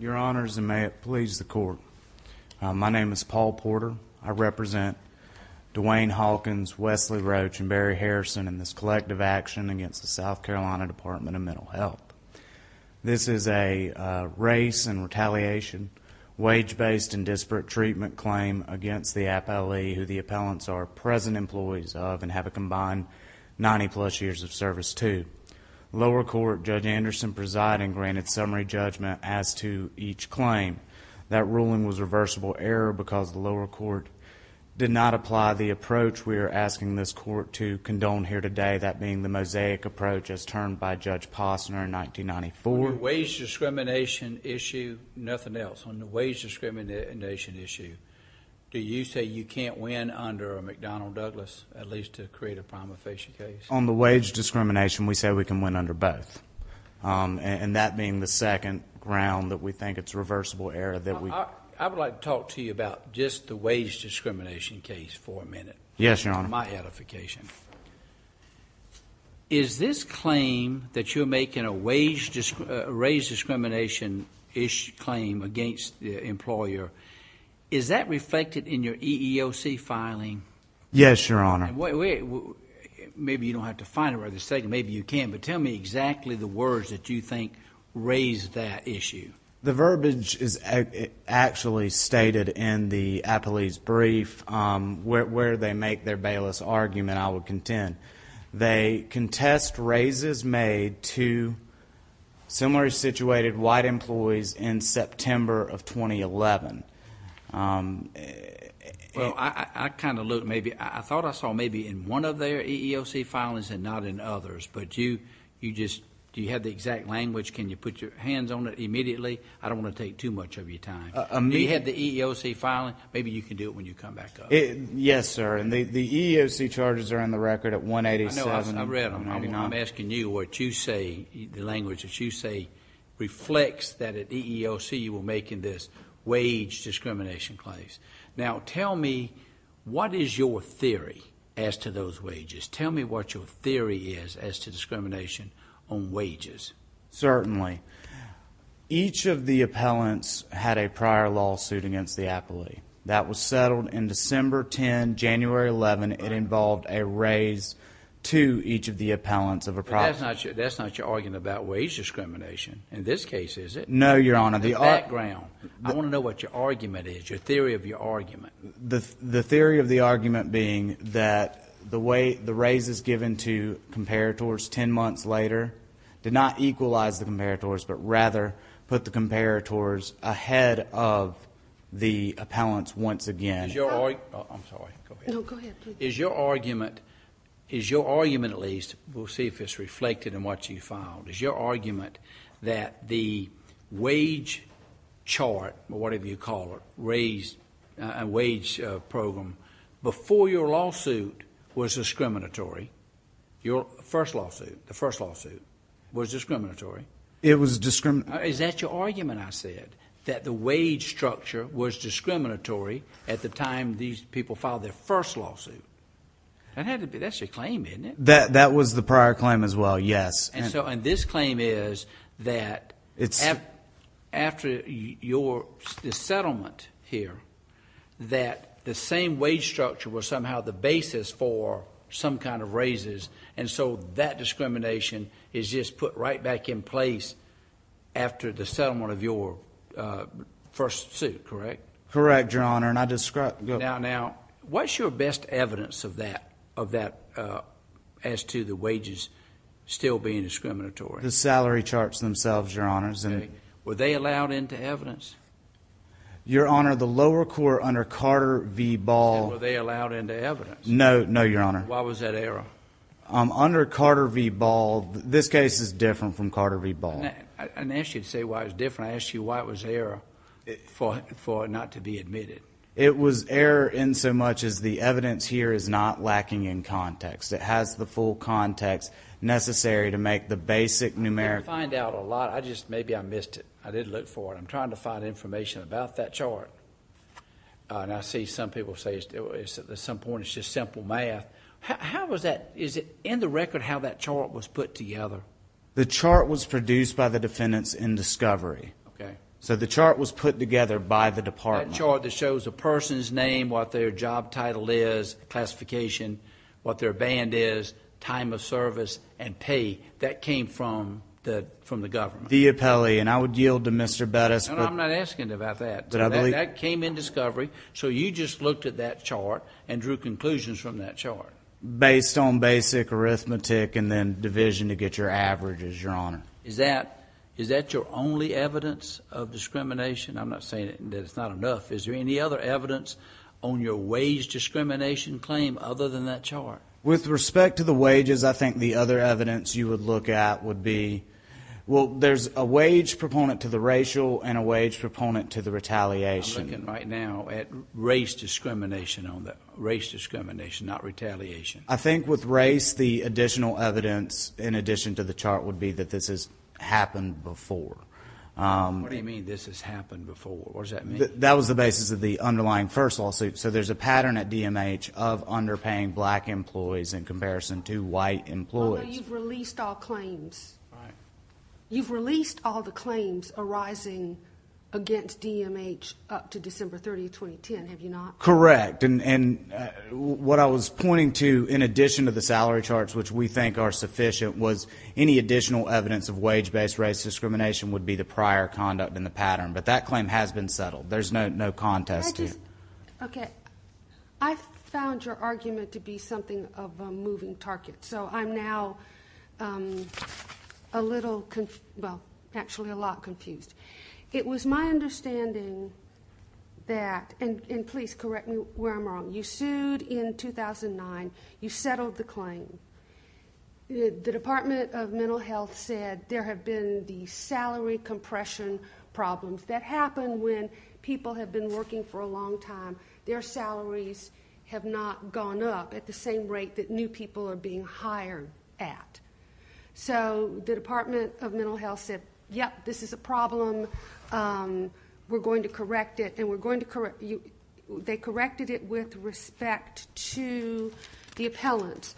Your Honors, and may it please the Court, my name is Paul Porter. I represent Dwayne Hawkins, Wesley Roach, and Barry Harrison in this collective action against the South Carolina Department of Mental Health. This is a race and retaliation, wage-based and appellants are present employees of and have a combined 90-plus years of service to. Lower Court, Judge Anderson presiding granted summary judgment as to each claim. That ruling was reversible error because the lower court did not apply the approach we are asking this court to condone here today, that being the mosaic approach as termed by Judge Posner in 1994. On the wage discrimination issue, nothing else. On the wage discrimination issue, do you say you can't win under a McDonnell Douglas, at least to create a prima facie case? On the wage discrimination, we say we can win under both. And that being the second ground that we think it's reversible error that we I would like to talk to you about just the wage discrimination case for a minute. Yes, Your Honor. My edification. Is this claim that you're making a wage, raise discrimination-ish claim against the employer, is that reflected in your EEOC filing? Yes, Your Honor. Maybe you don't have to find it or the state, maybe you can, but tell me exactly the words that you think raise that issue. The verbiage is actually stated in the appellee's brief where they make their bailiff's argument, I would contend. They contest raises made to similarly situated white employees in September of 2011. Well, I kind of looked maybe, I thought I saw maybe in one of their EEOC filings and not in others, but you, you just, do you have the exact language? Can you put your hands on it immediately? I don't want to take too much of your time. Do you have the EEOC filing? Maybe you can do it when you come back up. Yes, sir. And the EEOC charges are in the record at 187. I know, I read them. I'm asking you what you say, the language that you say reflects that at EEOC you were making this wage discrimination claims. Now, tell me what is your theory as to those wages? Tell me what your theory is as to discrimination on wages. Certainly. Each of the appellants had a prior lawsuit against the appellee. That was settled in December 10, January 11. It involved a raise to each of the appellants of a property. But that's not your argument about wage discrimination in this case, is it? No, Your Honor. The background. I want to know what your argument is, your theory of your argument. The theory of the argument being that the way the raise is given to comparators ten equalize the comparators, but rather put the comparators ahead of the appellants once again. I'm sorry. Go ahead. No, go ahead, please. Is your argument, is your argument at least, we'll see if it's reflected in what you filed, is your argument that the wage chart, or whatever you call it, raise, wage program, before your first lawsuit, the first lawsuit, was discriminatory? It was discriminatory. Is that your argument, I said, that the wage structure was discriminatory at the time these people filed their first lawsuit? That's your claim, isn't it? That was the prior claim as well, yes. This claim is that after the settlement here, that the same wage structure was somehow the same. That discrimination is just put right back in place after the settlement of your first suit, correct? Correct, Your Honor, and I described... Now, what's your best evidence of that, as to the wages still being discriminatory? The salary charts themselves, Your Honors, and... Were they allowed into evidence? Your Honor, the lower court under Carter v. Ball... Were they allowed into evidence? No, no, Your Honor. Why was that error? Under Carter v. Ball, this case is different from Carter v. Ball. I didn't ask you to say why it was different. I asked you why it was an error for it not to be admitted. It was error in so much as the evidence here is not lacking in context. It has the full context necessary to make the basic numerical... I didn't find out a lot. Maybe I missed it. I did look for it. I'm trying to find information about that chart, and I see some people say at some point it's just simple math. How was that... Is it in the record how that chart was put together? The chart was produced by the defendants in discovery. Okay. So, the chart was put together by the department. That chart that shows a person's name, what their job title is, classification, what their band is, time of service, and pay, that came from the government. The appellee, and I would yield to Mr. Bettis, but... I'm not asking about that. But I believe... That came in discovery, so you just looked at that chart and drew conclusions from that chart. Based on basic arithmetic and then division to get your averages, Your Honor. Is that your only evidence of discrimination? I'm not saying that it's not enough. Is there any other evidence on your wage discrimination claim other than that chart? With respect to the wages, I think the other evidence you would look at would be... Well, there's a wage proponent to the racial and a wage proponent to the retaliation. I'm looking right now at race discrimination, not retaliation. I think with race, the additional evidence, in addition to the chart, would be that this has happened before. What do you mean, this has happened before? What does that mean? That was the basis of the underlying first lawsuit. So, there's a pattern at DMH of underpaying black employees in comparison to white employees. Oh, no, you've released all claims. You've released all the claims arising against DMH up to December 30, 2010, have you not? Correct. What I was pointing to, in addition to the salary charts, which we think are sufficient, was any additional evidence of wage-based race discrimination would be the prior conduct in the pattern. But that claim has been settled. There's no contest to it. Okay. I found your argument to be something of a moving target. So, I'm now a little... Well, actually a lot confused. It was my understanding that... And please correct me where I'm wrong. You sued in 2009. You settled the claim. The Department of Mental Health said there have been these salary compression problems that happen when people have been working for a long time. Their salaries have not gone up at the same rate that new people are being hired at. So, the Department of Mental Health said, yep, this is a problem. We're going to correct it. They corrected it with respect to the appellant.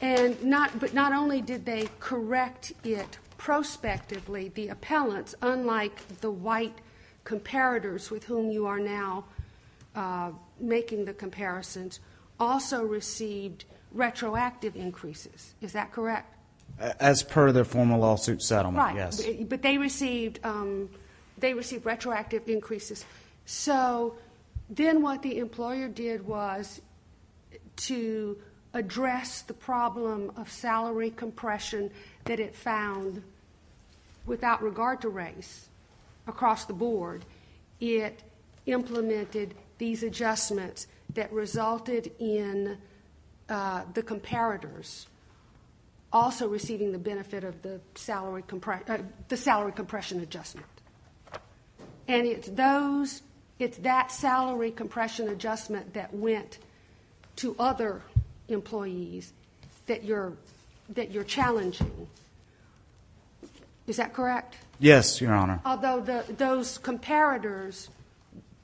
But not only did they correct it prospectively, the appellants, unlike the white comparators with whom you are now making the comparisons, also received retroactive increases. Is that correct? As per the formal lawsuit settlement, yes. Right. But they received retroactive increases. So, then what the employer did was to address the problem of salary compression that it found without regard to race across the board. It implemented these adjustments that resulted in the comparators also receiving the benefit of the salary compression adjustment. And it's that salary compression adjustment that went to other employees that you're challenging. Is that correct? Yes, Your Honor. Although those comparators,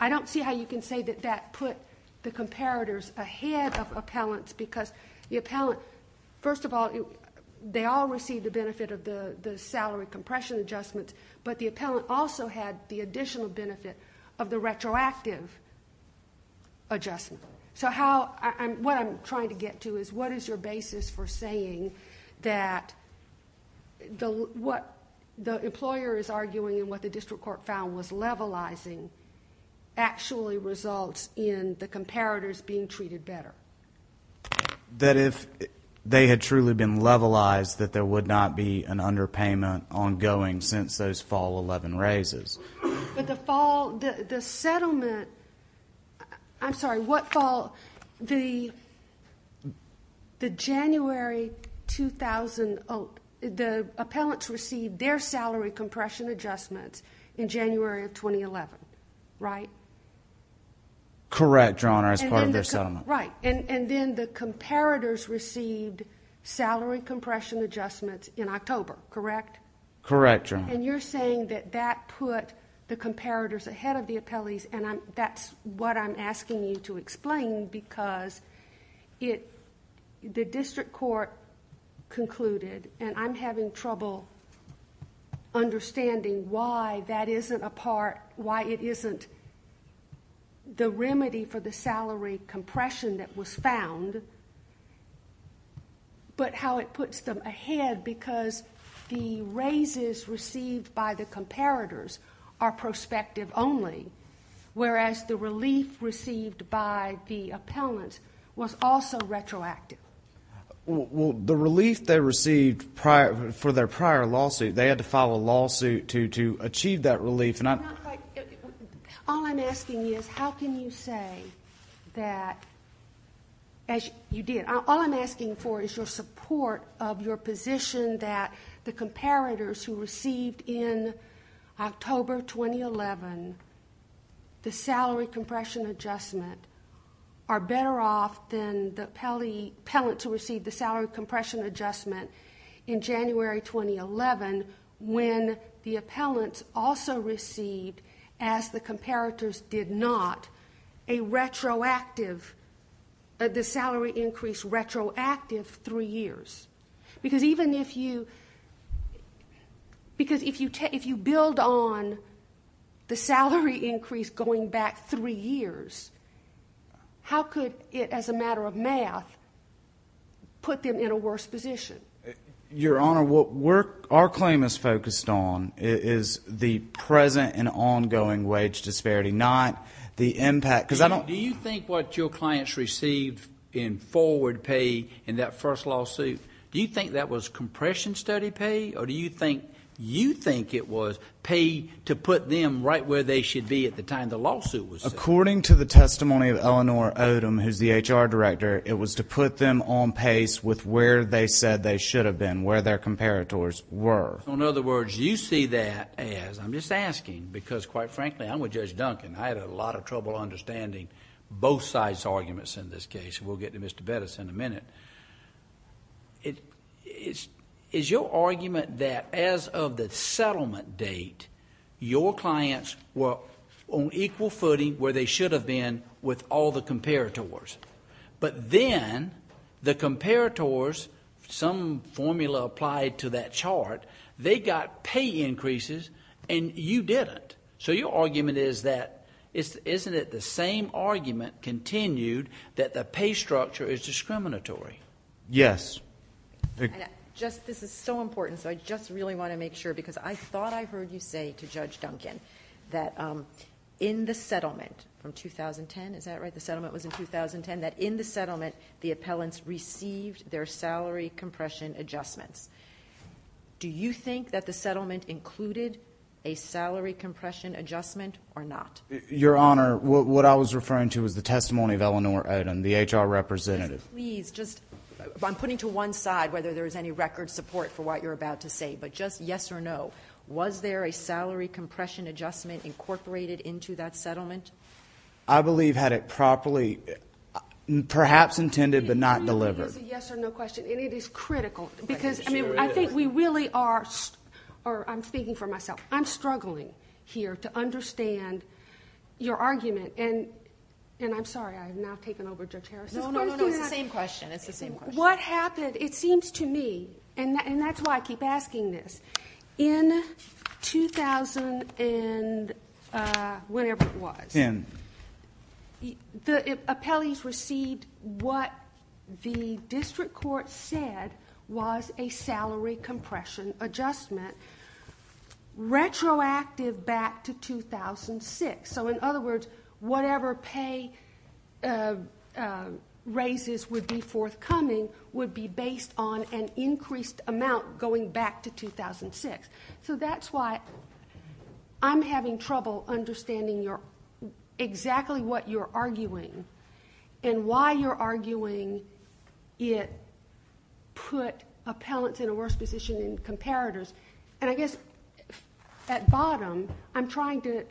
I don't see how you can say that that put the comparators ahead of appellants because the appellant, first of all, they all received the benefit of the salary compression adjustment, but the appellant also had the additional benefit of the retroactive adjustment. So, what I'm trying to get to is what is your basis for saying that the employer is arguing and what the district court found was levelizing actually results in the comparators being treated better? That if they had truly been levelized that there would not be an underpayment ongoing since those fall 11 raises. But the fall, the settlement, I'm sorry, what fall, the January 2000, the appellants received their salary compression adjustments in January of 2011, right? Correct, Your Honor, as part of their settlement. Right. And then the comparators received salary compression adjustments in October, correct? Correct, Your Honor. And you're saying that that put the comparators ahead of the appellees and that's what I'm asking you to explain because the district court concluded, and I'm having trouble understanding why that isn't a part, why it isn't the remedy for the salary compression that was found, but how it puts them ahead because the raises received by the comparators are prospective only, whereas the relief received by the appellant was also retroactive. Well, the relief they received for their prior lawsuit, they had to file a lawsuit to achieve that relief. All I'm asking is how can you say that, as you did, all I'm asking for is your support of your position that the comparators who received in October 2011 the salary compression adjustment are better off than the appellants who received the salary compression adjustment in January 2011 when the appellants also received, as the comparators did not, a retroactive, the salary increase retroactive three years? Because even if you, because if you build on the salary increase going back three years, how could it, as a matter of math, put them in a worse position? Your Honor, what our claim is focused on is the present and ongoing wage disparity, not the impact. Do you think what your clients received in forward pay in that first lawsuit, do you think that was compression study pay or do you think you think it was pay to put them right where they should be at the time the testimony of Eleanor Odom, who's the HR director, it was to put them on pace with where they said they should have been, where their comparators were? In other words, you see that as, I'm just asking because quite frankly, I'm with Judge Duncan. I had a lot of trouble understanding both sides' arguments in this case. We'll get to Mr. Bettis in a minute. Is your argument that as of the settlement date, your clients were on equal footing where they should have been with all the comparators, but then the comparators, some formula applied to that chart, they got pay increases and you didn't. So your argument is that, isn't it the same argument continued that the pay structure is discriminatory? Yes. This is so important, so I just really want to make sure because I thought I heard you say to Is that right? The settlement was in 2010 that in the settlement, the appellants received their salary compression adjustments. Do you think that the settlement included a salary compression adjustment or not? Your Honor, what I was referring to was the testimony of Eleanor Odom, the HR representative. Please, just I'm putting to one side whether there is any record support for what you're about to say, but just yes or no. Was there a salary compression adjustment incorporated into that settlement? I believe had it properly, perhaps intended, but not delivered. It was a yes or no question and it is critical because I think we really are, or I'm speaking for myself, I'm struggling here to understand your argument and I'm sorry, I've now taken over Judge Harris's. No, no, no, it's the same question. It's the same question. What happened, it seems to me, and that's why I keep asking this. In 2000 and whenever it was, the appellees received what the district court said was a salary compression adjustment retroactive back to 2006. So in other words, whatever pay raises would be forthcoming would be based on an increased amount going back to 2006. So that's why I'm having trouble understanding exactly what you're arguing and why you're arguing it put appellants in a worse position in comparators. And I guess at bottom, I'm trying to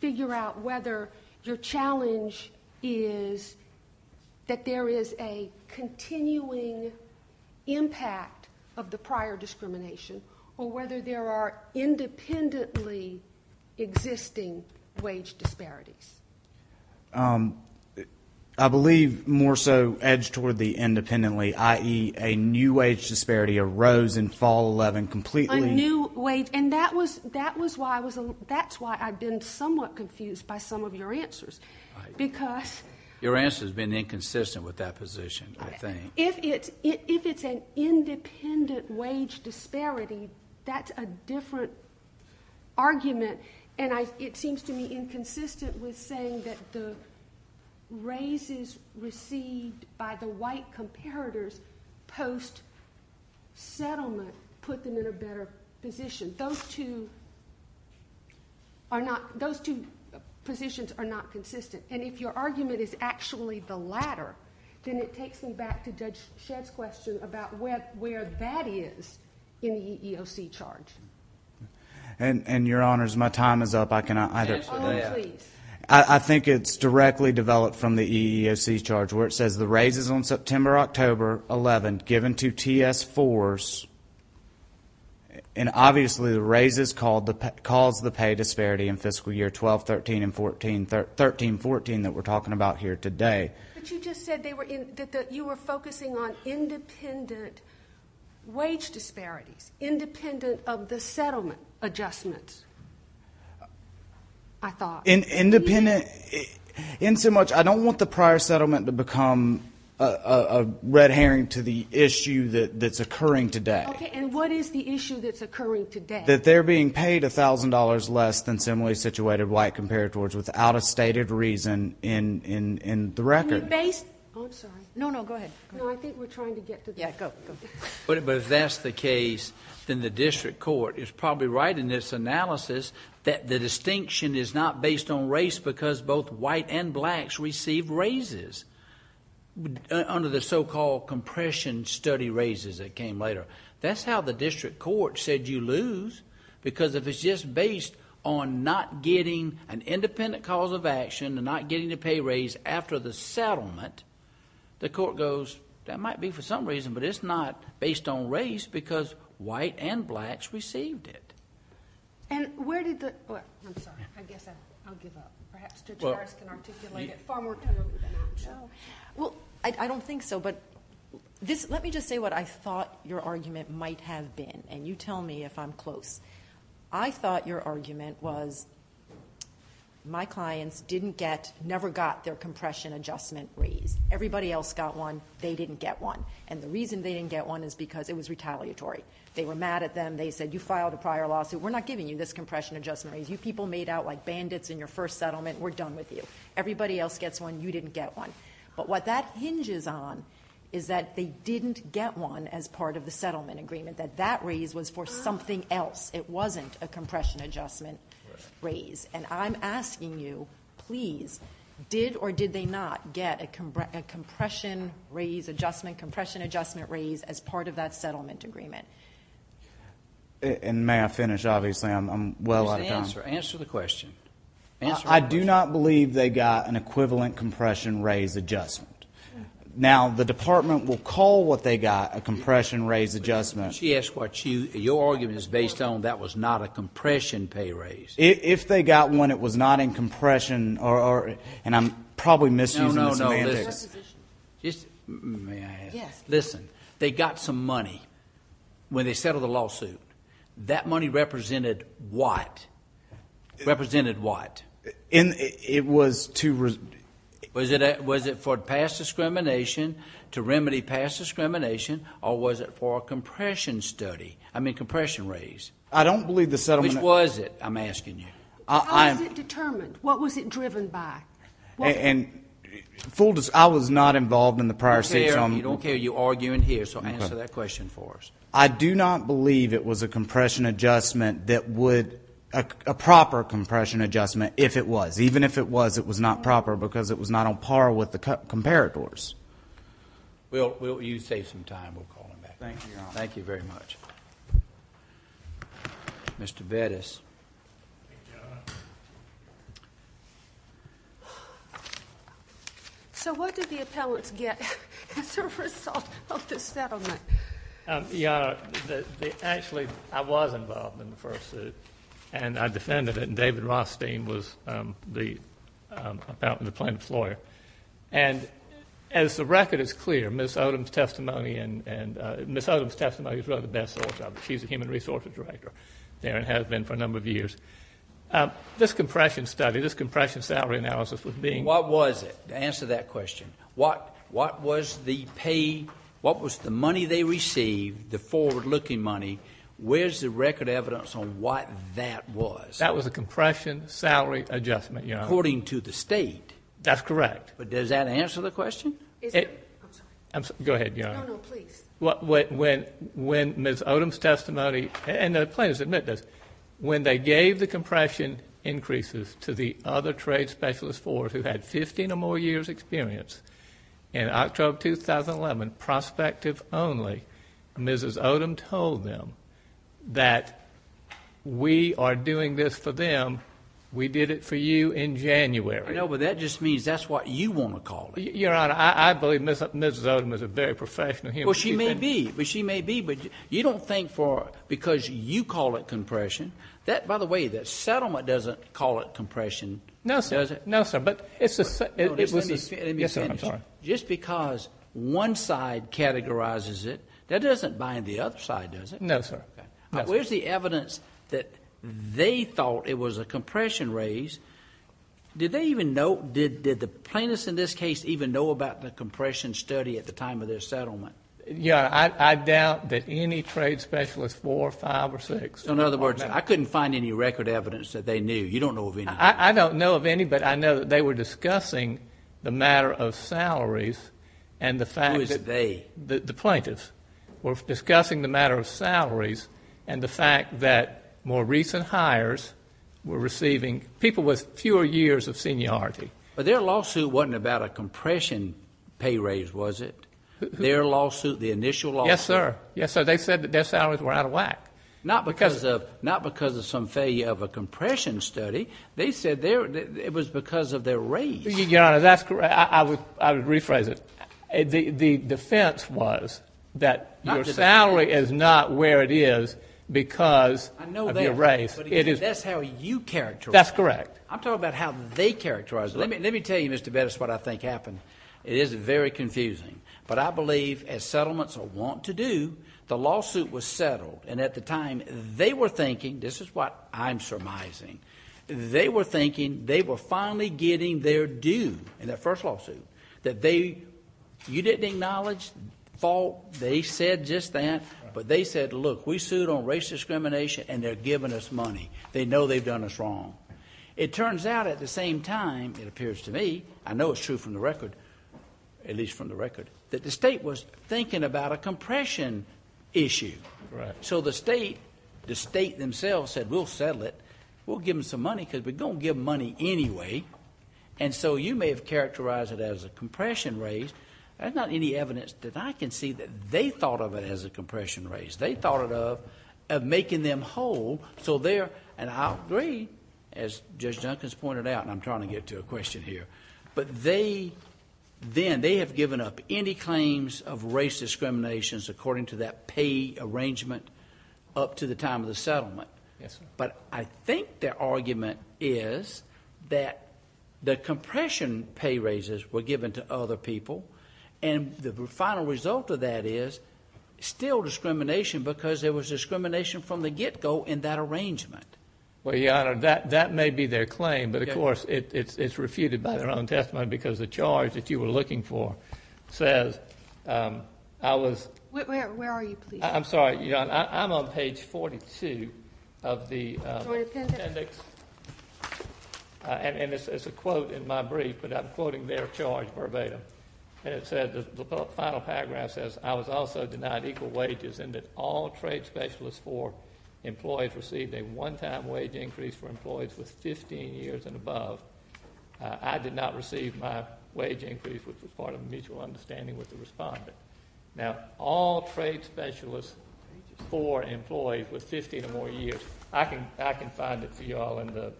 figure out whether your challenge is that there is a continuing impact of the prior discrimination or whether there are independently existing wage disparities. I believe more so edged toward the independently, i.e. a new wage disparity arose in fall 11 completely. A new wage, and that was why I was, that's why I've been somewhat confused by some of your answers because. Your answer has been inconsistent with that position, I think. If it's an independent wage disparity, that's a different argument and it seems to me inconsistent with saying that the raises received by the white comparators post-settlement put them in a better position. Those two are not, those two positions are not consistent. And if your argument is actually the latter, then it takes me back to Judge Shedd's question about where that is in the EEOC charge. And your honors, my time is up. I think it's directly developed from the EEOC charge where it says the raises on September, October 11, given to TS-4s, and obviously the raises caused the pay disparity in fiscal year 12, 13, and 14, 13, 14 that we're talking about here today. But you just said that you were focusing on independent wage disparities, independent of the settlement adjustments, I thought. Independent, in so much, I don't want the prior settlement to become a red herring to the issue that's occurring today. Okay, and what is the issue that's occurring today? That they're being paid $1,000 less than similarly situated white comparators without a stated reason in the record. Are you based? I'm sorry. No, no, go ahead. No, I think we're trying to get to the... Yeah, go, go. But if that's the case, then the district court is probably right in this analysis that the distinction is not based on race because both white and blacks receive raises under the so-called compression study raises that came later. That's how the district court said you lose because if it's just based on not getting an independent cause of action and not getting the pay raise after the settlement, the court goes that might be for some reason, but it's not based on race because white and blacks received it. And where did the... I'm sorry. I guess I'll give up. Perhaps Judge Harris can articulate it far more clearly than I can. Well, I don't think so, but let me just say what I thought your argument might have been, and you tell me if I'm close. I thought your argument was my clients never got their compression adjustment raise. Everybody else got one. They didn't get one. And the reason they didn't get one is because it was retaliatory. They were mad at them. They said, you filed a prior lawsuit. We're not giving you this compression adjustment raise. You people made out like bandits in your first settlement. We're done with you. Everybody else gets one. You didn't get one. But what that hinges on is that they didn't get one as part of the settlement agreement, that that raise was for something else. It wasn't a compression adjustment raise. And I'm asking you, please, did or did they not get a compression raise adjustment, compression adjustment raise as part of that settlement agreement? And may I finish? Obviously, I'm well out of time. Answer the question. I do not believe they got an equivalent compression raise adjustment. Now, the department will call what they got a compression raise adjustment. Your argument is based on that was not a compression pay raise. If they got one, it was not in compression. And I'm probably misusing the semantics. No, no, no. Listen, they got some money when they settled the lawsuit. That money represented what? Represented what? And it was to... Was it for past discrimination, to remedy past discrimination, or was it for a compression study? I mean, compression raise. I don't believe the settlement... Which was it? I'm asking you. How was it determined? What was it driven by? And full disclosure, I was not involved in the prior states on... You don't care. You argue in here. So answer that question for us. I do not believe it was a compression adjustment that would... A proper compression adjustment if it was. Even if it was, it was not proper because it was not on par with the comparators. Will you save some time? We'll call him back. Thank you, Your Honor. Thank you very much. Mr. Bettis. So what did the appellants get as a result of the settlement? Your Honor, actually, I was involved in the first suit and I defended it. And David Rothstein was the appellant, the plaintiff's lawyer. And as the record is clear, Ms. Odom's testimony and... Ms. Odom's testimony is really the best source of it. She's a human resources director there and has been for a number of years. This compression study, this compression salary analysis was being... What was it? Answer that question. What was the pay? What was the money they received, the forward-looking money? Where's the record evidence on what that was? That was a compression salary adjustment, Your Honor. According to the state. That's correct. But does that answer the question? Go ahead, Your Honor. No, no, please. When Ms. Odom's testimony... And the plaintiffs admit this. When they gave the compression increases to the other trade specialist fours who had 15 or more years experience in October of 2011, prospective only, Mrs. Odom told them that we are doing this for them. We did it for you in January. I know, but that just means that's what you want to call it. Your Honor, I believe Mrs. Odom is a very professional human... Well, she may be. But she may be. But you don't think for... Because you call it compression. That, by the way, the settlement doesn't call it compression. No, sir. No, sir. Just let me finish. Just because one side categorizes it, that doesn't bind the other side, does it? No, sir. Where's the evidence that they thought it was a compression raise? Did they even know? Did the plaintiffs in this case even know about the compression study at the time of their settlement? Your Honor, I doubt that any trade specialist four, five, or six... In other words, I couldn't find any record evidence that they knew. You don't know of any. I don't know of any, but I know that they were discussing the matter of salaries and the fact... Who is they? The plaintiffs were discussing the matter of salaries and the fact that more recent hires were receiving people with fewer years of seniority. But their lawsuit wasn't about a compression pay raise, was it? Their lawsuit, the initial lawsuit? Yes, sir. Yes, sir. They said that their salaries were out of whack. Not because of some failure of a compression study. They said it was because of their raise. Your Honor, that's correct. I would rephrase it. The defense was that your salary is not where it is because of your raise. I know that, but that's how you characterize it. That's correct. I'm talking about how they characterize it. Let me tell you, Mr. Bettis, what I think happened. It is very confusing. But I believe as settlements are wont to do, the lawsuit was settled. And at the time, they were thinking, this is what I'm surmising. They were thinking they were finally getting their due in that first lawsuit. You didn't acknowledge fault. They said just that. But they said, look, we sued on race discrimination and they're giving us money. They know they've done us wrong. It turns out at the same time, it appears to me, I know it's true from the record, at least from the record, that the state was thinking about a compression issue. So the state, the state themselves said, we'll settle it. We'll give them some money because we're going to give money anyway. And so you may have characterized it as a compression raise. There's not any evidence that I can see that they thought of it as a compression raise. They thought of making them whole. So they're, and I agree, as Judge Duncans pointed out, and I'm trying to get to a question here. But they, then they have given up any claims of race discrimination according to that pay arrangement up to the time of the settlement. Yes. But I think their argument is that the compression pay raises were given to other people. And the final result of that is still discrimination because there was discrimination from the get-go in that arrangement. Well, Your Honor, that may be their claim. But of course, it's refuted by their own testimony because the charge that you were looking for says, I was... Where are you, please? I'm sorry, Your Honor. I'm on page 42 of the appendix. And it's a quote in my brief, but I'm quoting their charge verbatim. And it said, the final paragraph says, I was also denied equal wages and that all trade specialists for employees received a one-time wage increase for employees with 15 years and above. I did not receive my wage increase, which was part of a mutual understanding with the respondent. Now, all trade specialists for employees with 15 or more years. I can find it for you all in the...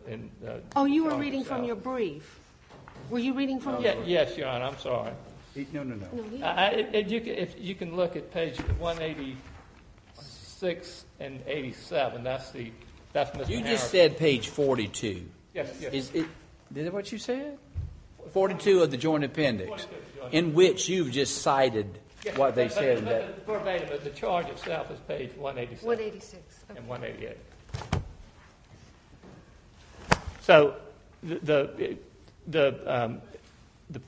Oh, you were reading from your brief. Were you reading from... Yes, Your Honor. I'm sorry. No, no, no. If you can look at page 186 and 87, that's the... You just said page 42. Yes, yes. Is it what you said? 42 of the joint appendix in which you've just cited what they said. It's verbatim, but the charge itself is page 186 and 188. So the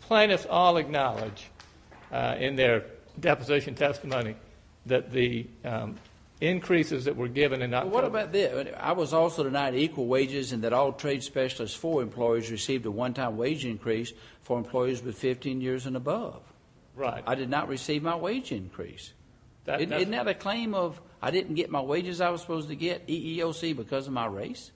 plaintiffs all acknowledge in their deposition testimony that the increases that were given and not... Well, what about this? I was also denied equal wages and that all trade specialists for employees received a one-time wage increase for employees with 15 years and above. Right. I did not receive my wage increase. Isn't that a claim of, I didn't get my wages I was supposed to get, EEOC, because of my race?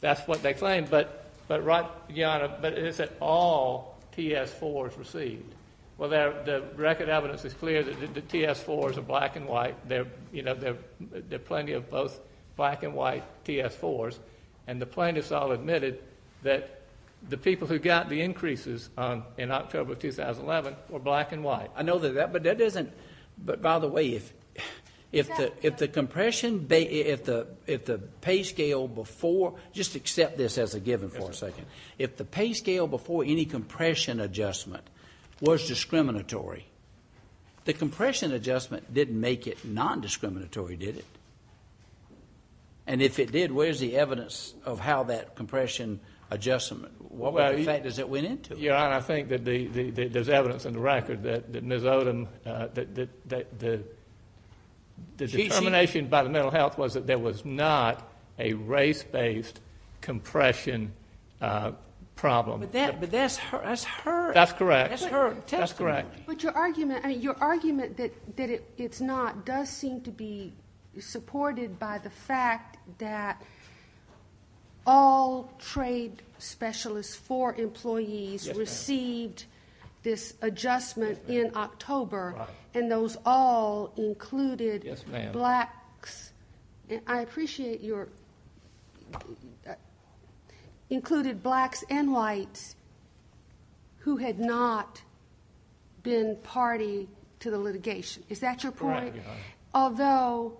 That's what they claim, but right, Your Honor, but is it all TS-4s received? Well, the record evidence is clear that the TS-4s are black and white. There are plenty of both black and white TS-4s and the plaintiffs all admitted that the people who got the increases in October of 2011 were black and white. I know that, but that isn't... But by the way, if the pay scale before... Just accept this as a given for a second. If the pay scale before any compression adjustment was discriminatory, the compression adjustment didn't make it non-discriminatory, did it? No. And if it did, where's the evidence of how that compression adjustment, what factors it went into? Your Honor, I think that there's evidence in the record that Ms. Odom, the determination by the mental health was that there was not a race-based compression problem. But that's her... That's correct. That's her testimony. But your argument that it's not does seem to be supported by the fact that all trade specialists, four employees received this adjustment in October and those all included blacks. I appreciate your... Included blacks and whites who had not been party to the litigation. Is that your point? Correct, Your Honor. Although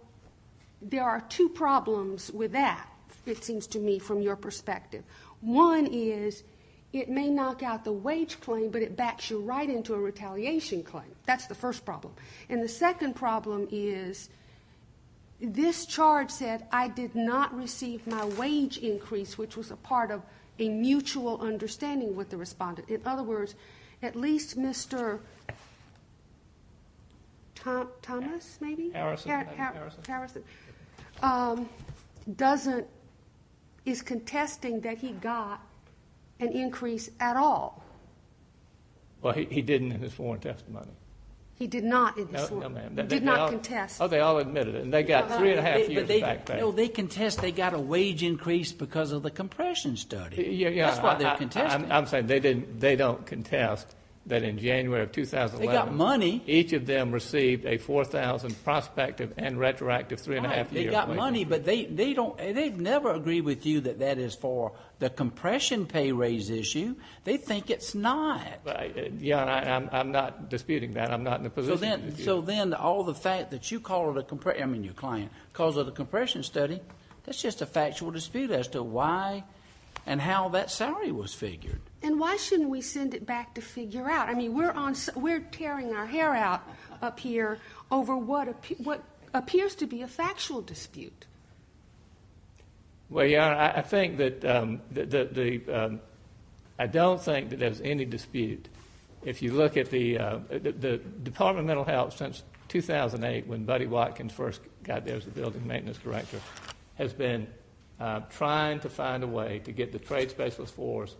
there are two problems with that, it seems to me from your perspective. One is it may knock out the wage claim, but it backs you right into a retaliation claim. That's the first problem. And the second problem is this charge said, I did not receive my wage increase, which was a part of a mutual understanding with the respondent. In other words, at least Mr. Thomas, maybe? Harrison. Doesn't... Is contesting that he got an increase at all. Well, he didn't in his sworn testimony. He did not in his sworn testimony. Did not contest. Oh, they all admitted it. And they got three and a half years back there. No, they contest they got a wage increase because of the compression study. Yeah, yeah. That's why they're contesting. I'm saying they didn't. They don't contest that in January of 2011. They got money. Each of them received a 4,000 prospective and retroactive three and a half years. They got money, but they don't. They've never agreed with you that that is for the compression pay raise issue. They think it's not. Your Honor, I'm not disputing that. I'm not in the position to do that. So then all the fact that you call it a compression... I mean, your client calls it a compression study. That's just a factual dispute as to why and how that salary was figured. And why shouldn't we send it back to figure out? I mean, we're tearing our hair out up here over what appears to be a factual dispute. Well, your Honor, I don't think that there's any dispute. If you look at the Department of Mental Health since 2008 when Buddy Watkins first got there as a building maintenance corrector, has been trying to find a way to get the trade specialist force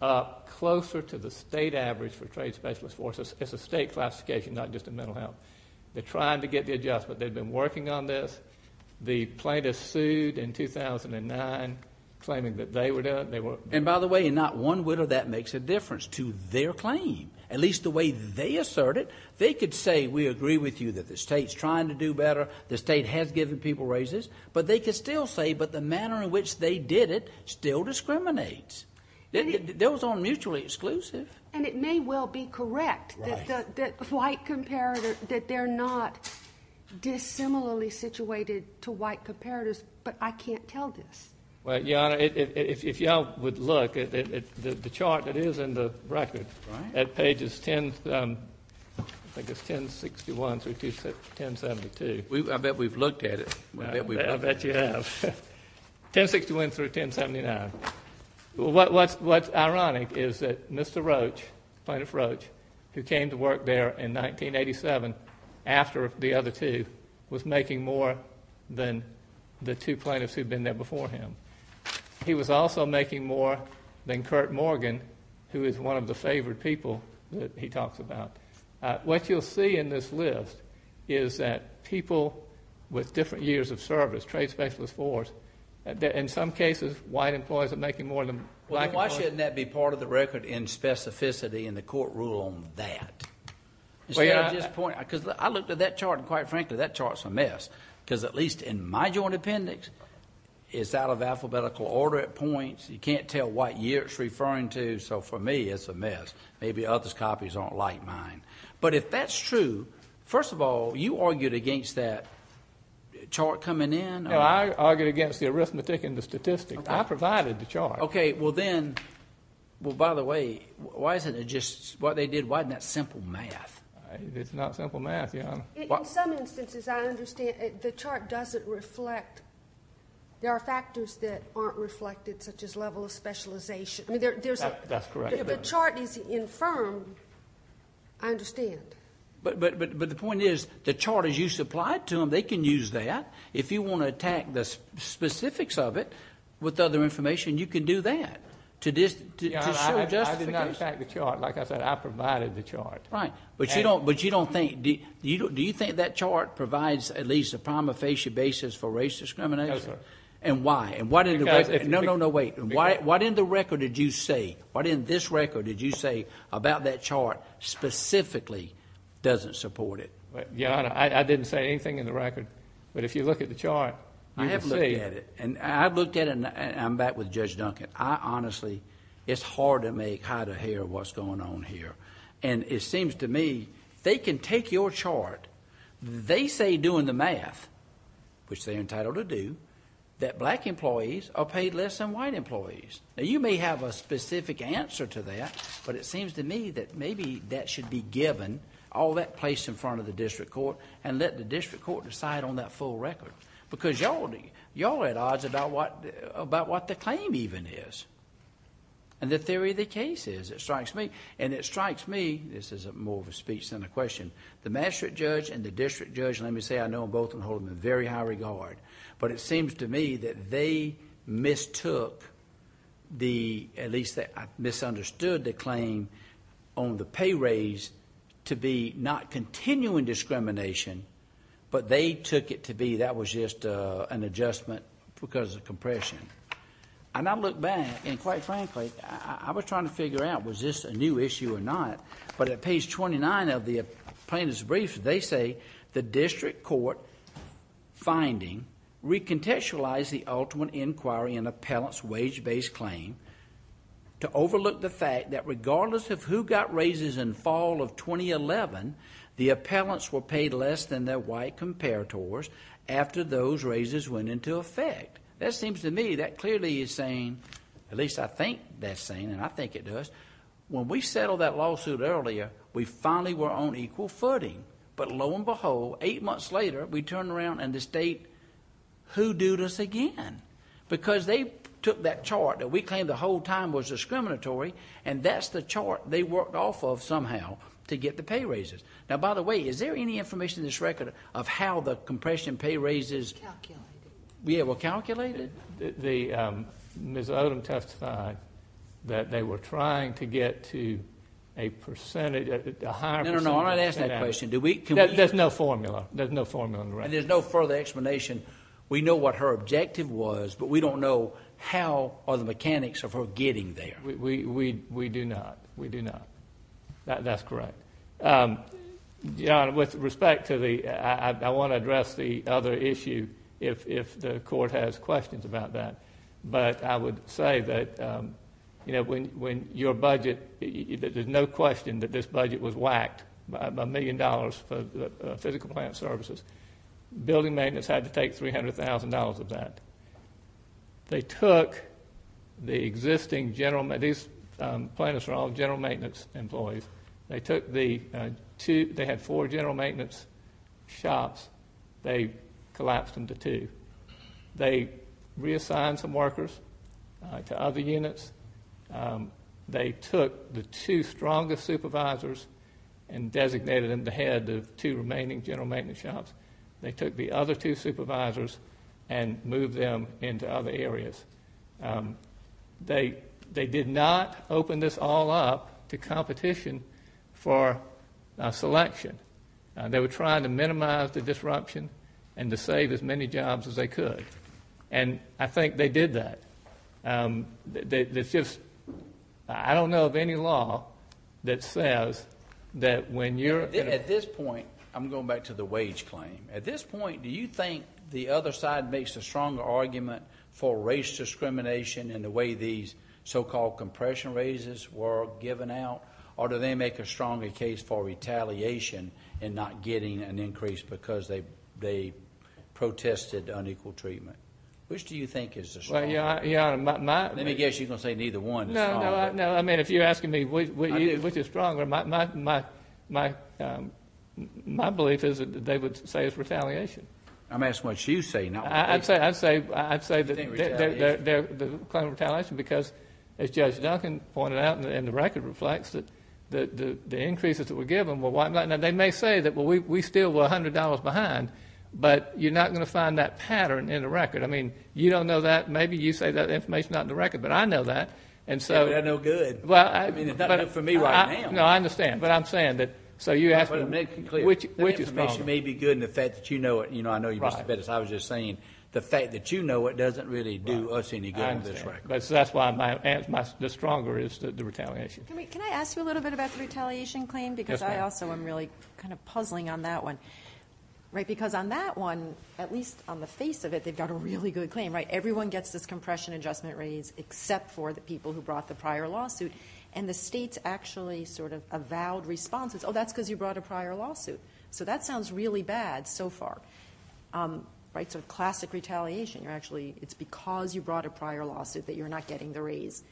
up closer to the state average for trade specialist forces. It's a state classification, not just a mental health. They're trying to get the adjustment. They've been working on this. The plaintiffs sued in 2009 claiming that they were doing it. And by the way, not one widow that makes a difference to their claim, at least the way they assert it. They could say, we agree with you that the state's trying to do better. The state has given people raises. But they could still say, but the manner in which they did it still discriminates. Those aren't mutually exclusive. And it may well be correct that white comparator, that they're not dissimilarly situated to white comparators. But I can't tell this. Well, your Honor, if y'all would look at the chart that is in the record at pages 10, I think it's 1061 through 1072. I bet we've looked at it. I bet you have. 1061 through 1079. What's ironic is that Mr. Roach, Plaintiff Roach, who came to work there in 1987 after the other two was making more than the two plaintiffs who'd been there before him. He was also making more than Kurt Morgan, who is one of the favored people that he talks about. What you'll see in this list is that people with different years of service, trade specialist force, that in some cases, white employees are making more than black. Why shouldn't that be part of the record in specificity in the court rule on that? Because I looked at that chart, and quite frankly, that chart's a mess. Because at least in my joint appendix, it's out of alphabetical order at points. You can't tell what year it's referring to. So for me, it's a mess. Maybe others' copies aren't like mine. But if that's true, first of all, you argued against that chart coming in? No, I argued against the arithmetic and the statistics. I provided the chart. Okay, well then, by the way, why isn't it just what they did? Why isn't that simple math? It's not simple math, Your Honor. In some instances, I understand. The chart doesn't reflect. There are factors that aren't reflected, such as level of specialization. I mean, there's a- That's correct. If the chart is infirm, I understand. But the point is, the chart is used to apply to them. They can use that. If you want to attack the specifics of it with other information, you can do that. I did not attack the chart. Like I said, I provided the chart. Right, but you don't think- Do you think that chart provides at least a prima facie basis for race discrimination? No, sir. And why? No, no, no, wait. What in the record did you say? What in this record did you say about that chart specifically doesn't support it? Your Honor, I didn't say anything in the record. But if you look at the chart, you can see- I have looked at it. And I've looked at it, and I'm back with Judge Duncan. I honestly, it's hard to make out of here what's going on here. And it seems to me, they can take your chart. They say doing the math, which they're entitled to do, that black employees are paid less than white employees. Now, you may have a specific answer to that, but it seems to me that maybe that should be given, all that placed in front of the district court, and let the district court decide on that full record. Because y'all are at odds about what the claim even is. And the theory of the case is, it strikes me. And it strikes me, this is more of a speech than a question. The magistrate judge and the district judge, let me say, I know both of them hold them in very high regard. But it seems to me that they mistook, at least I misunderstood the claim on the pay raise to be not continuing discrimination, but they took it to be that was just an adjustment because of compression. And I look back, and quite frankly, I was trying to figure out, was this a new issue or not? But at page 29 of the plaintiff's brief, they say, the district court finding recontextualized the ultimate inquiry in appellant's wage-based claim to overlook the fact that regardless of who got raises in fall of 2011, the appellants were paid less than their white comparators after those raises went into effect. That seems to me, that clearly is saying, at least I think that's saying, and I think it does, when we settled that lawsuit earlier, we finally were on equal footing. But lo and behold, eight months later, we turn around and the state, who dued us again? Because they took that chart that we claim the whole time was discriminatory, and that's the chart they worked off of somehow to get the pay raises. Now, by the way, is there any information in this record of how the compression pay raises were calculated? Ms. Odom testified that they were trying to get to a percentage, a higher percentage. No, no, no, I'm not asking that question. There's no formula. There's no formula in the record. And there's no further explanation. We know what her objective was, but we don't know how are the mechanics of her getting there. We do not. We do not. That's correct. Your Honor, with respect to the, I want to address the other issue if the court has questions about that. But I would say that when your budget, there's no question that this budget was whacked by a million dollars for the physical plant services. Building maintenance had to take $300,000 of that. They took the existing general, these plaintiffs are all general maintenance employees. They took the two, they had four general maintenance shops. They collapsed them to two. They reassigned some workers to other units. They took the two strongest supervisors and designated them the head of two remaining general maintenance shops. They took the other two supervisors and moved them into other areas. They did not open this all up to competition for selection. They were trying to minimize the disruption and to save as many jobs as they could. And I think they did that. It's just, I don't know of any law that says that when you're- At this point, I'm going back to the wage claim. At this point, do you think the other side makes a stronger argument for race discrimination in the way these so-called compression raises were given out? Or do they make a stronger case for retaliation and not getting an increase because they protested unequal treatment? Which do you think is the stronger argument? Your Honor, my- Let me guess, you're going to say neither one is stronger. No, no. I mean, if you're asking me which is stronger, my belief is that they would say it's retaliation. I'm asking what you say, not what they say. I'd say that they're claiming retaliation because, as Judge Duncan pointed out, and the record reflects it, that the increases that were given were whatnot. Now, they may say that, well, we still were $100 behind, but you're not going to find that pattern in the record. You don't know that. Maybe you say that information's not in the record, but I know that. Yeah, but that's no good. I mean, it's not good for me right now. No, I understand. But I'm saying that, so you ask me which is stronger. But to make it clear, the information may be good, and the fact that you know it, I know you must have said this, I was just saying the fact that you know it doesn't really do us any good on this record. That's why the stronger is the retaliation. Can I ask you a little bit about the retaliation claim? Yes, ma'am. Because I also am really kind of puzzling on that one. Because on that one, at least on the face of it, they've got a really good claim, right? Everyone gets this compression adjustment raise except for the people who brought the prior lawsuit. And the states actually sort of avowed responses. Oh, that's because you brought a prior lawsuit. So that sounds really bad so far, right? So classic retaliation, you're actually, it's because you brought a prior lawsuit that you're not getting the raise.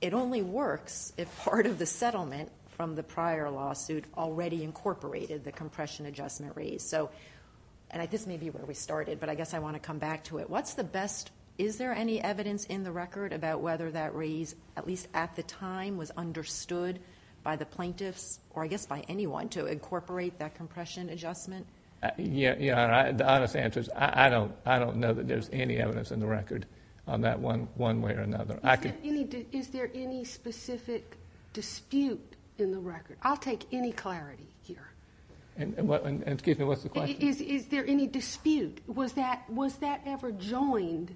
It only works if part of the settlement from the prior lawsuit already incorporated the compression adjustment raise. So, and this may be where we started, but I guess I want to come back to it. What's the best, is there any evidence in the record about whether that raise, at least at the time, was understood by the plaintiffs, or I guess by anyone, to incorporate that compression adjustment? Yeah, the honest answer is I don't know that there's any evidence in the record on that one way or another. Is there any specific dispute in the record? I'll take any clarity here. And excuse me, what's the question? Is there any dispute? Was that ever joined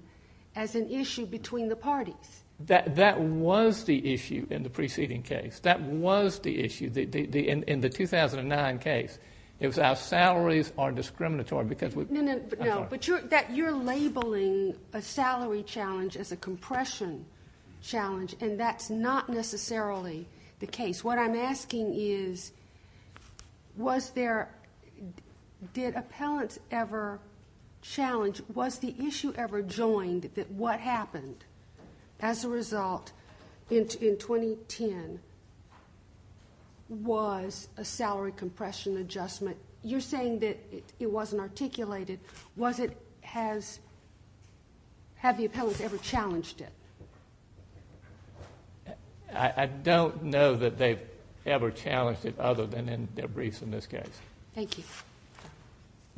as an issue between the parties? That was the issue in the preceding case. That was the issue in the 2009 case. It was our salaries are discriminatory because we- No, no, no, but you're labeling a salary challenge as a compression challenge, and that's not necessarily the case. What I'm asking is, was there, did appellants ever challenge, was the issue ever joined that what happened as a result in 2010 was a salary compression adjustment? You're saying that it wasn't articulated. Have the appellants ever challenged it? I don't know that they've ever challenged it other than in their briefs in this case. Thank you.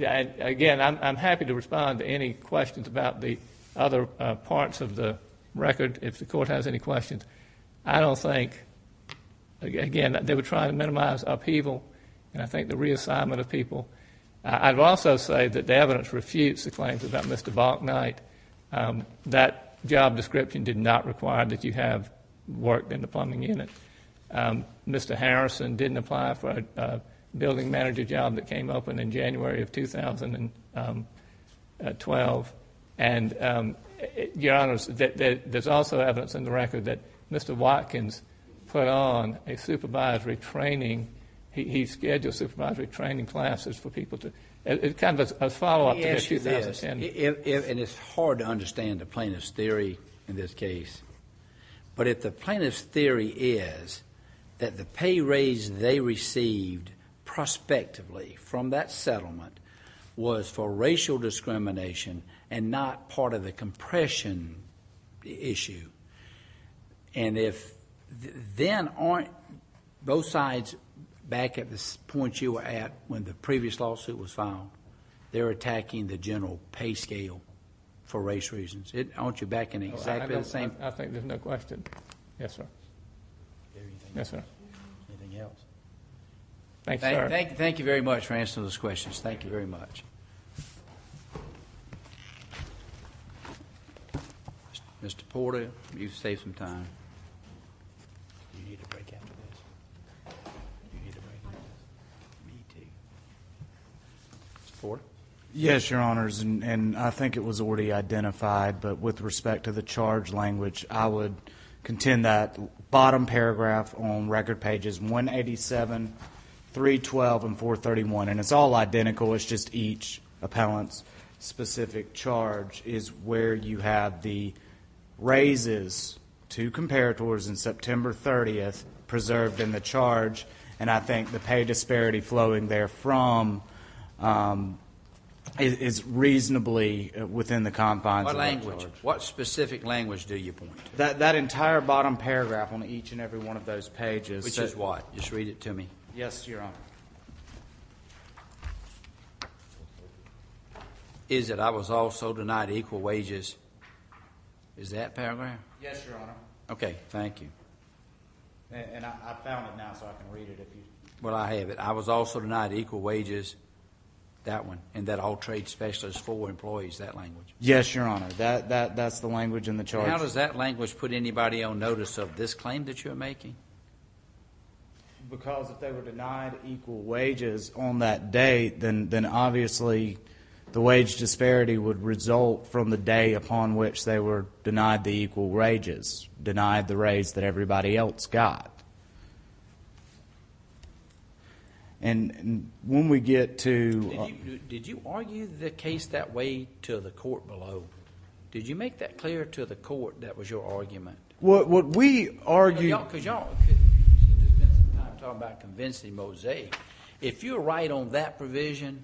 Again, I'm happy to respond to any questions about the other parts of the record if the court has any questions. I don't think, again, that they were trying to minimize upheaval and I think the reassignment of people. I'd also say that the evidence refutes the claims about Mr. Balknight. That job description did not require that you have worked in the plumbing unit. Mr. Harrison didn't apply for a building manager job that came open in January of 2012. Your Honor, there's also evidence in the record that Mr. Watkins put on a supervisory training. He scheduled supervisory training classes for people to, it's kind of a follow-up to 2010. And it's hard to understand the plaintiff's theory in this case. But if the plaintiff's theory is that the pay raise they received prospectively from that settlement was for racial discrimination and not part of the compression issue. And if then aren't both sides back at this point you were at when the previous lawsuit was filed, they're attacking the general pay scale for race reasons. Aren't you back in exactly the same? I think there's no question. Yes, sir. Yes, sir. Anything else? Thank you, sir. Thank you very much for answering those questions. Thank you very much. Mr. Porter, you've saved some time. Do you need a break after this? Do you need a break after this? Me too. Mr. Porter? Yes, Your Honors. And I think it was already identified. But with respect to the charge language, I would contend that bottom paragraph on record pages 187, 312, and 431, and it's all identical. It's just each appellant's specific charge is where you have the raises to comparators in September 30th preserved in the charge. And I think the pay disparity flowing there from is reasonably within the confines. What language? What specific language do you point to? That entire bottom paragraph on each and every one of those pages. Which is what? Just read it to me. Yes, Your Honor. Is it, I was also denied equal wages. Is that paragraph? Yes, Your Honor. Okay, thank you. And I found it now so I can read it if you. Well, I have it. I was also denied equal wages. That one. And that all trade specialists for employees, that language. Yes, Your Honor. That's the language in the charge. How does that language put anybody on notice of this claim that you're making? Because if they were denied equal wages on that day, then obviously the wage disparity would result from the day upon which they were denied the equal wages. Denied the raise that everybody else got. And when we get to... Did you argue the case that way to the court below? Did you make that clear to the court that was your argument? What we argued... No, because y'all... I'm talking about convincing Mosaic. If you're right on that provision,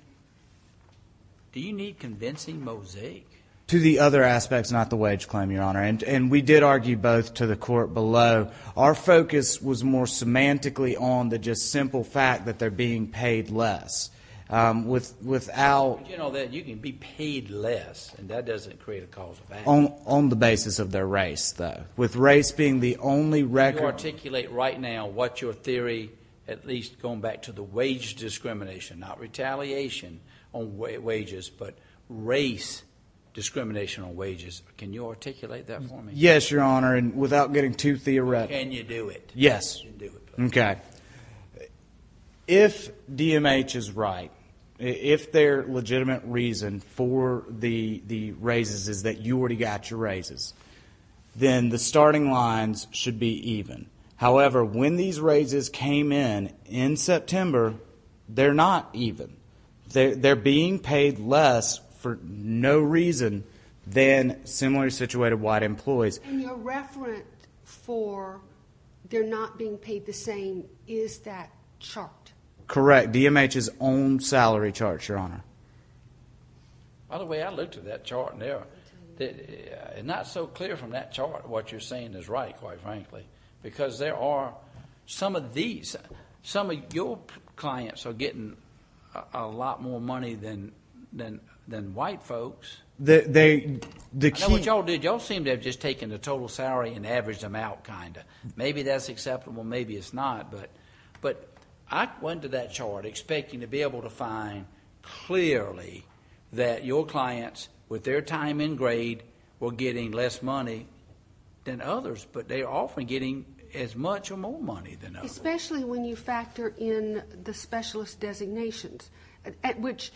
do you need convincing Mosaic? To the other aspects, not the wage claim, Your Honor. And we did argue both to the court below. Our focus was more semantically on the just simple fact that they're being paid less. Without... You know that you can be paid less and that doesn't create a cause of action. On the basis of their race, though. With race being the only record... Can you articulate right now what your theory, at least going back to the wage discrimination, not retaliation on wages, but race discrimination on wages. Can you articulate that for me? Yes, Your Honor. And without getting too theoretical. Can you do it? Yes. Okay. If DMH is right, if their legitimate reason for the raises is that you already got your raises, then the starting lines should be even. However, when these raises came in, in September, they're not even. They're being paid less for no reason than similarly situated white employees. In your reference for they're not being paid the same, is that chart? Correct. DMH's own salary chart, Your Honor. By the way, I looked at that chart. It's not so clear from that chart what you're saying is right, quite frankly. Because there are some of these, some of your clients are getting a lot more money than white folks. I know what y'all did. Y'all seem to have just taken the total salary and averaged them out, kind of. Maybe that's acceptable. Maybe it's not. But I went to that chart expecting to be able to find clearly that your clients with their time in grade were getting less money than others. But they're often getting as much or more money than others. Especially when you factor in the specialist designations, at which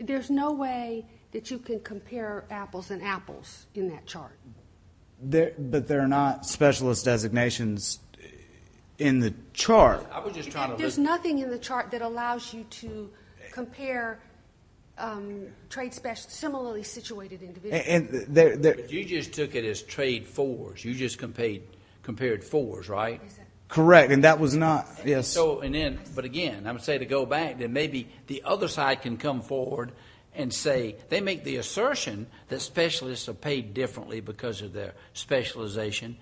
there's no way that you can compare apples and apples in that chart. But they're not specialist designations in the chart. I was just trying to... There's nothing in the chart that allows you to compare trade specialists, similarly situated individuals. You just took it as trade fours. You just compared fours, right? Correct. And that was not... Yes. But again, I would say to go back that maybe the other side can come forward and say they make the assertion that specialists are paid differently because of their specialization.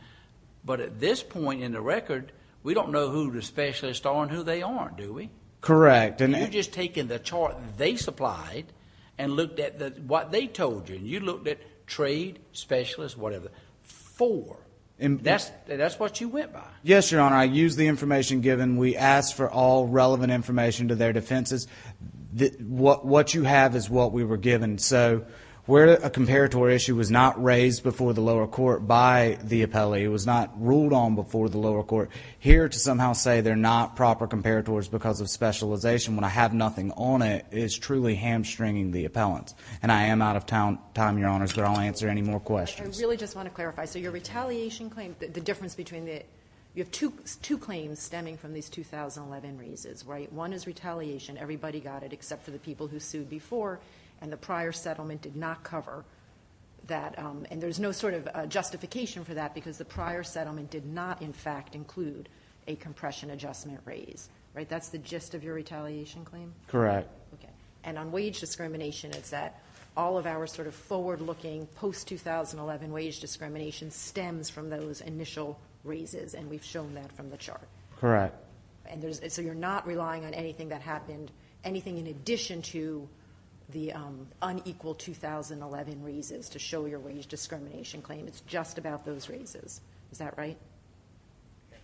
But at this point in the record, we don't know who the specialists are and who they aren't, do we? Correct. You've just taken the chart they supplied and looked at what they told you. You looked at trade specialists, whatever. Four. That's what you went by. Yes, Your Honor. I used the information given. We asked for all relevant information to their defenses. What you have is what we were given. So where a comparatory issue was not raised before the lower court by the appellee, it was not ruled on before the lower court. Here to somehow say they're not proper comparators because of specialization when I have nothing on it is truly hamstringing the appellant. And I am out of time, Your Honors, but I'll answer any more questions. I really just want to clarify. So your retaliation claim, the difference between the... You have two claims stemming from these 2011 raises, right? One is retaliation. Everybody got it except for the people who sued before. And the prior settlement did not cover that. And there's no sort of justification for that because the prior settlement did not, in fact, include a compression adjustment raise, right? That's the gist of your retaliation claim? Correct. Okay. And on wage discrimination, it's that all of our sort of forward-looking post-2011 wage discrimination stems from those initial raises. And we've shown that from the chart. Correct. And so you're not relying on anything that happened, anything in addition to the unequal 2011 raises to show your wage discrimination claim. It's just about those raises. Is that right?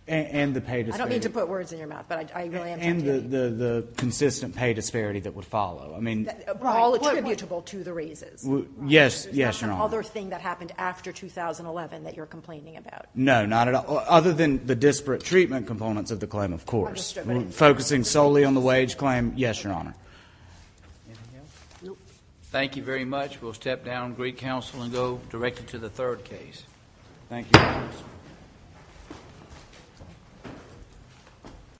And the pay disparity. I don't mean to put words in your mouth, and the consistent pay disparity that would follow. I mean... All attributable to the raises. Yes. Yes, Your Honor. That's another thing that happened after 2011 that you're complaining about. No, not at all. Other than the disparate treatment components of the claim, of course. Focusing solely on the wage claim. Yes, Your Honor. Thank you very much. We'll step down, greet counsel, and go directly to the third case. Thank you.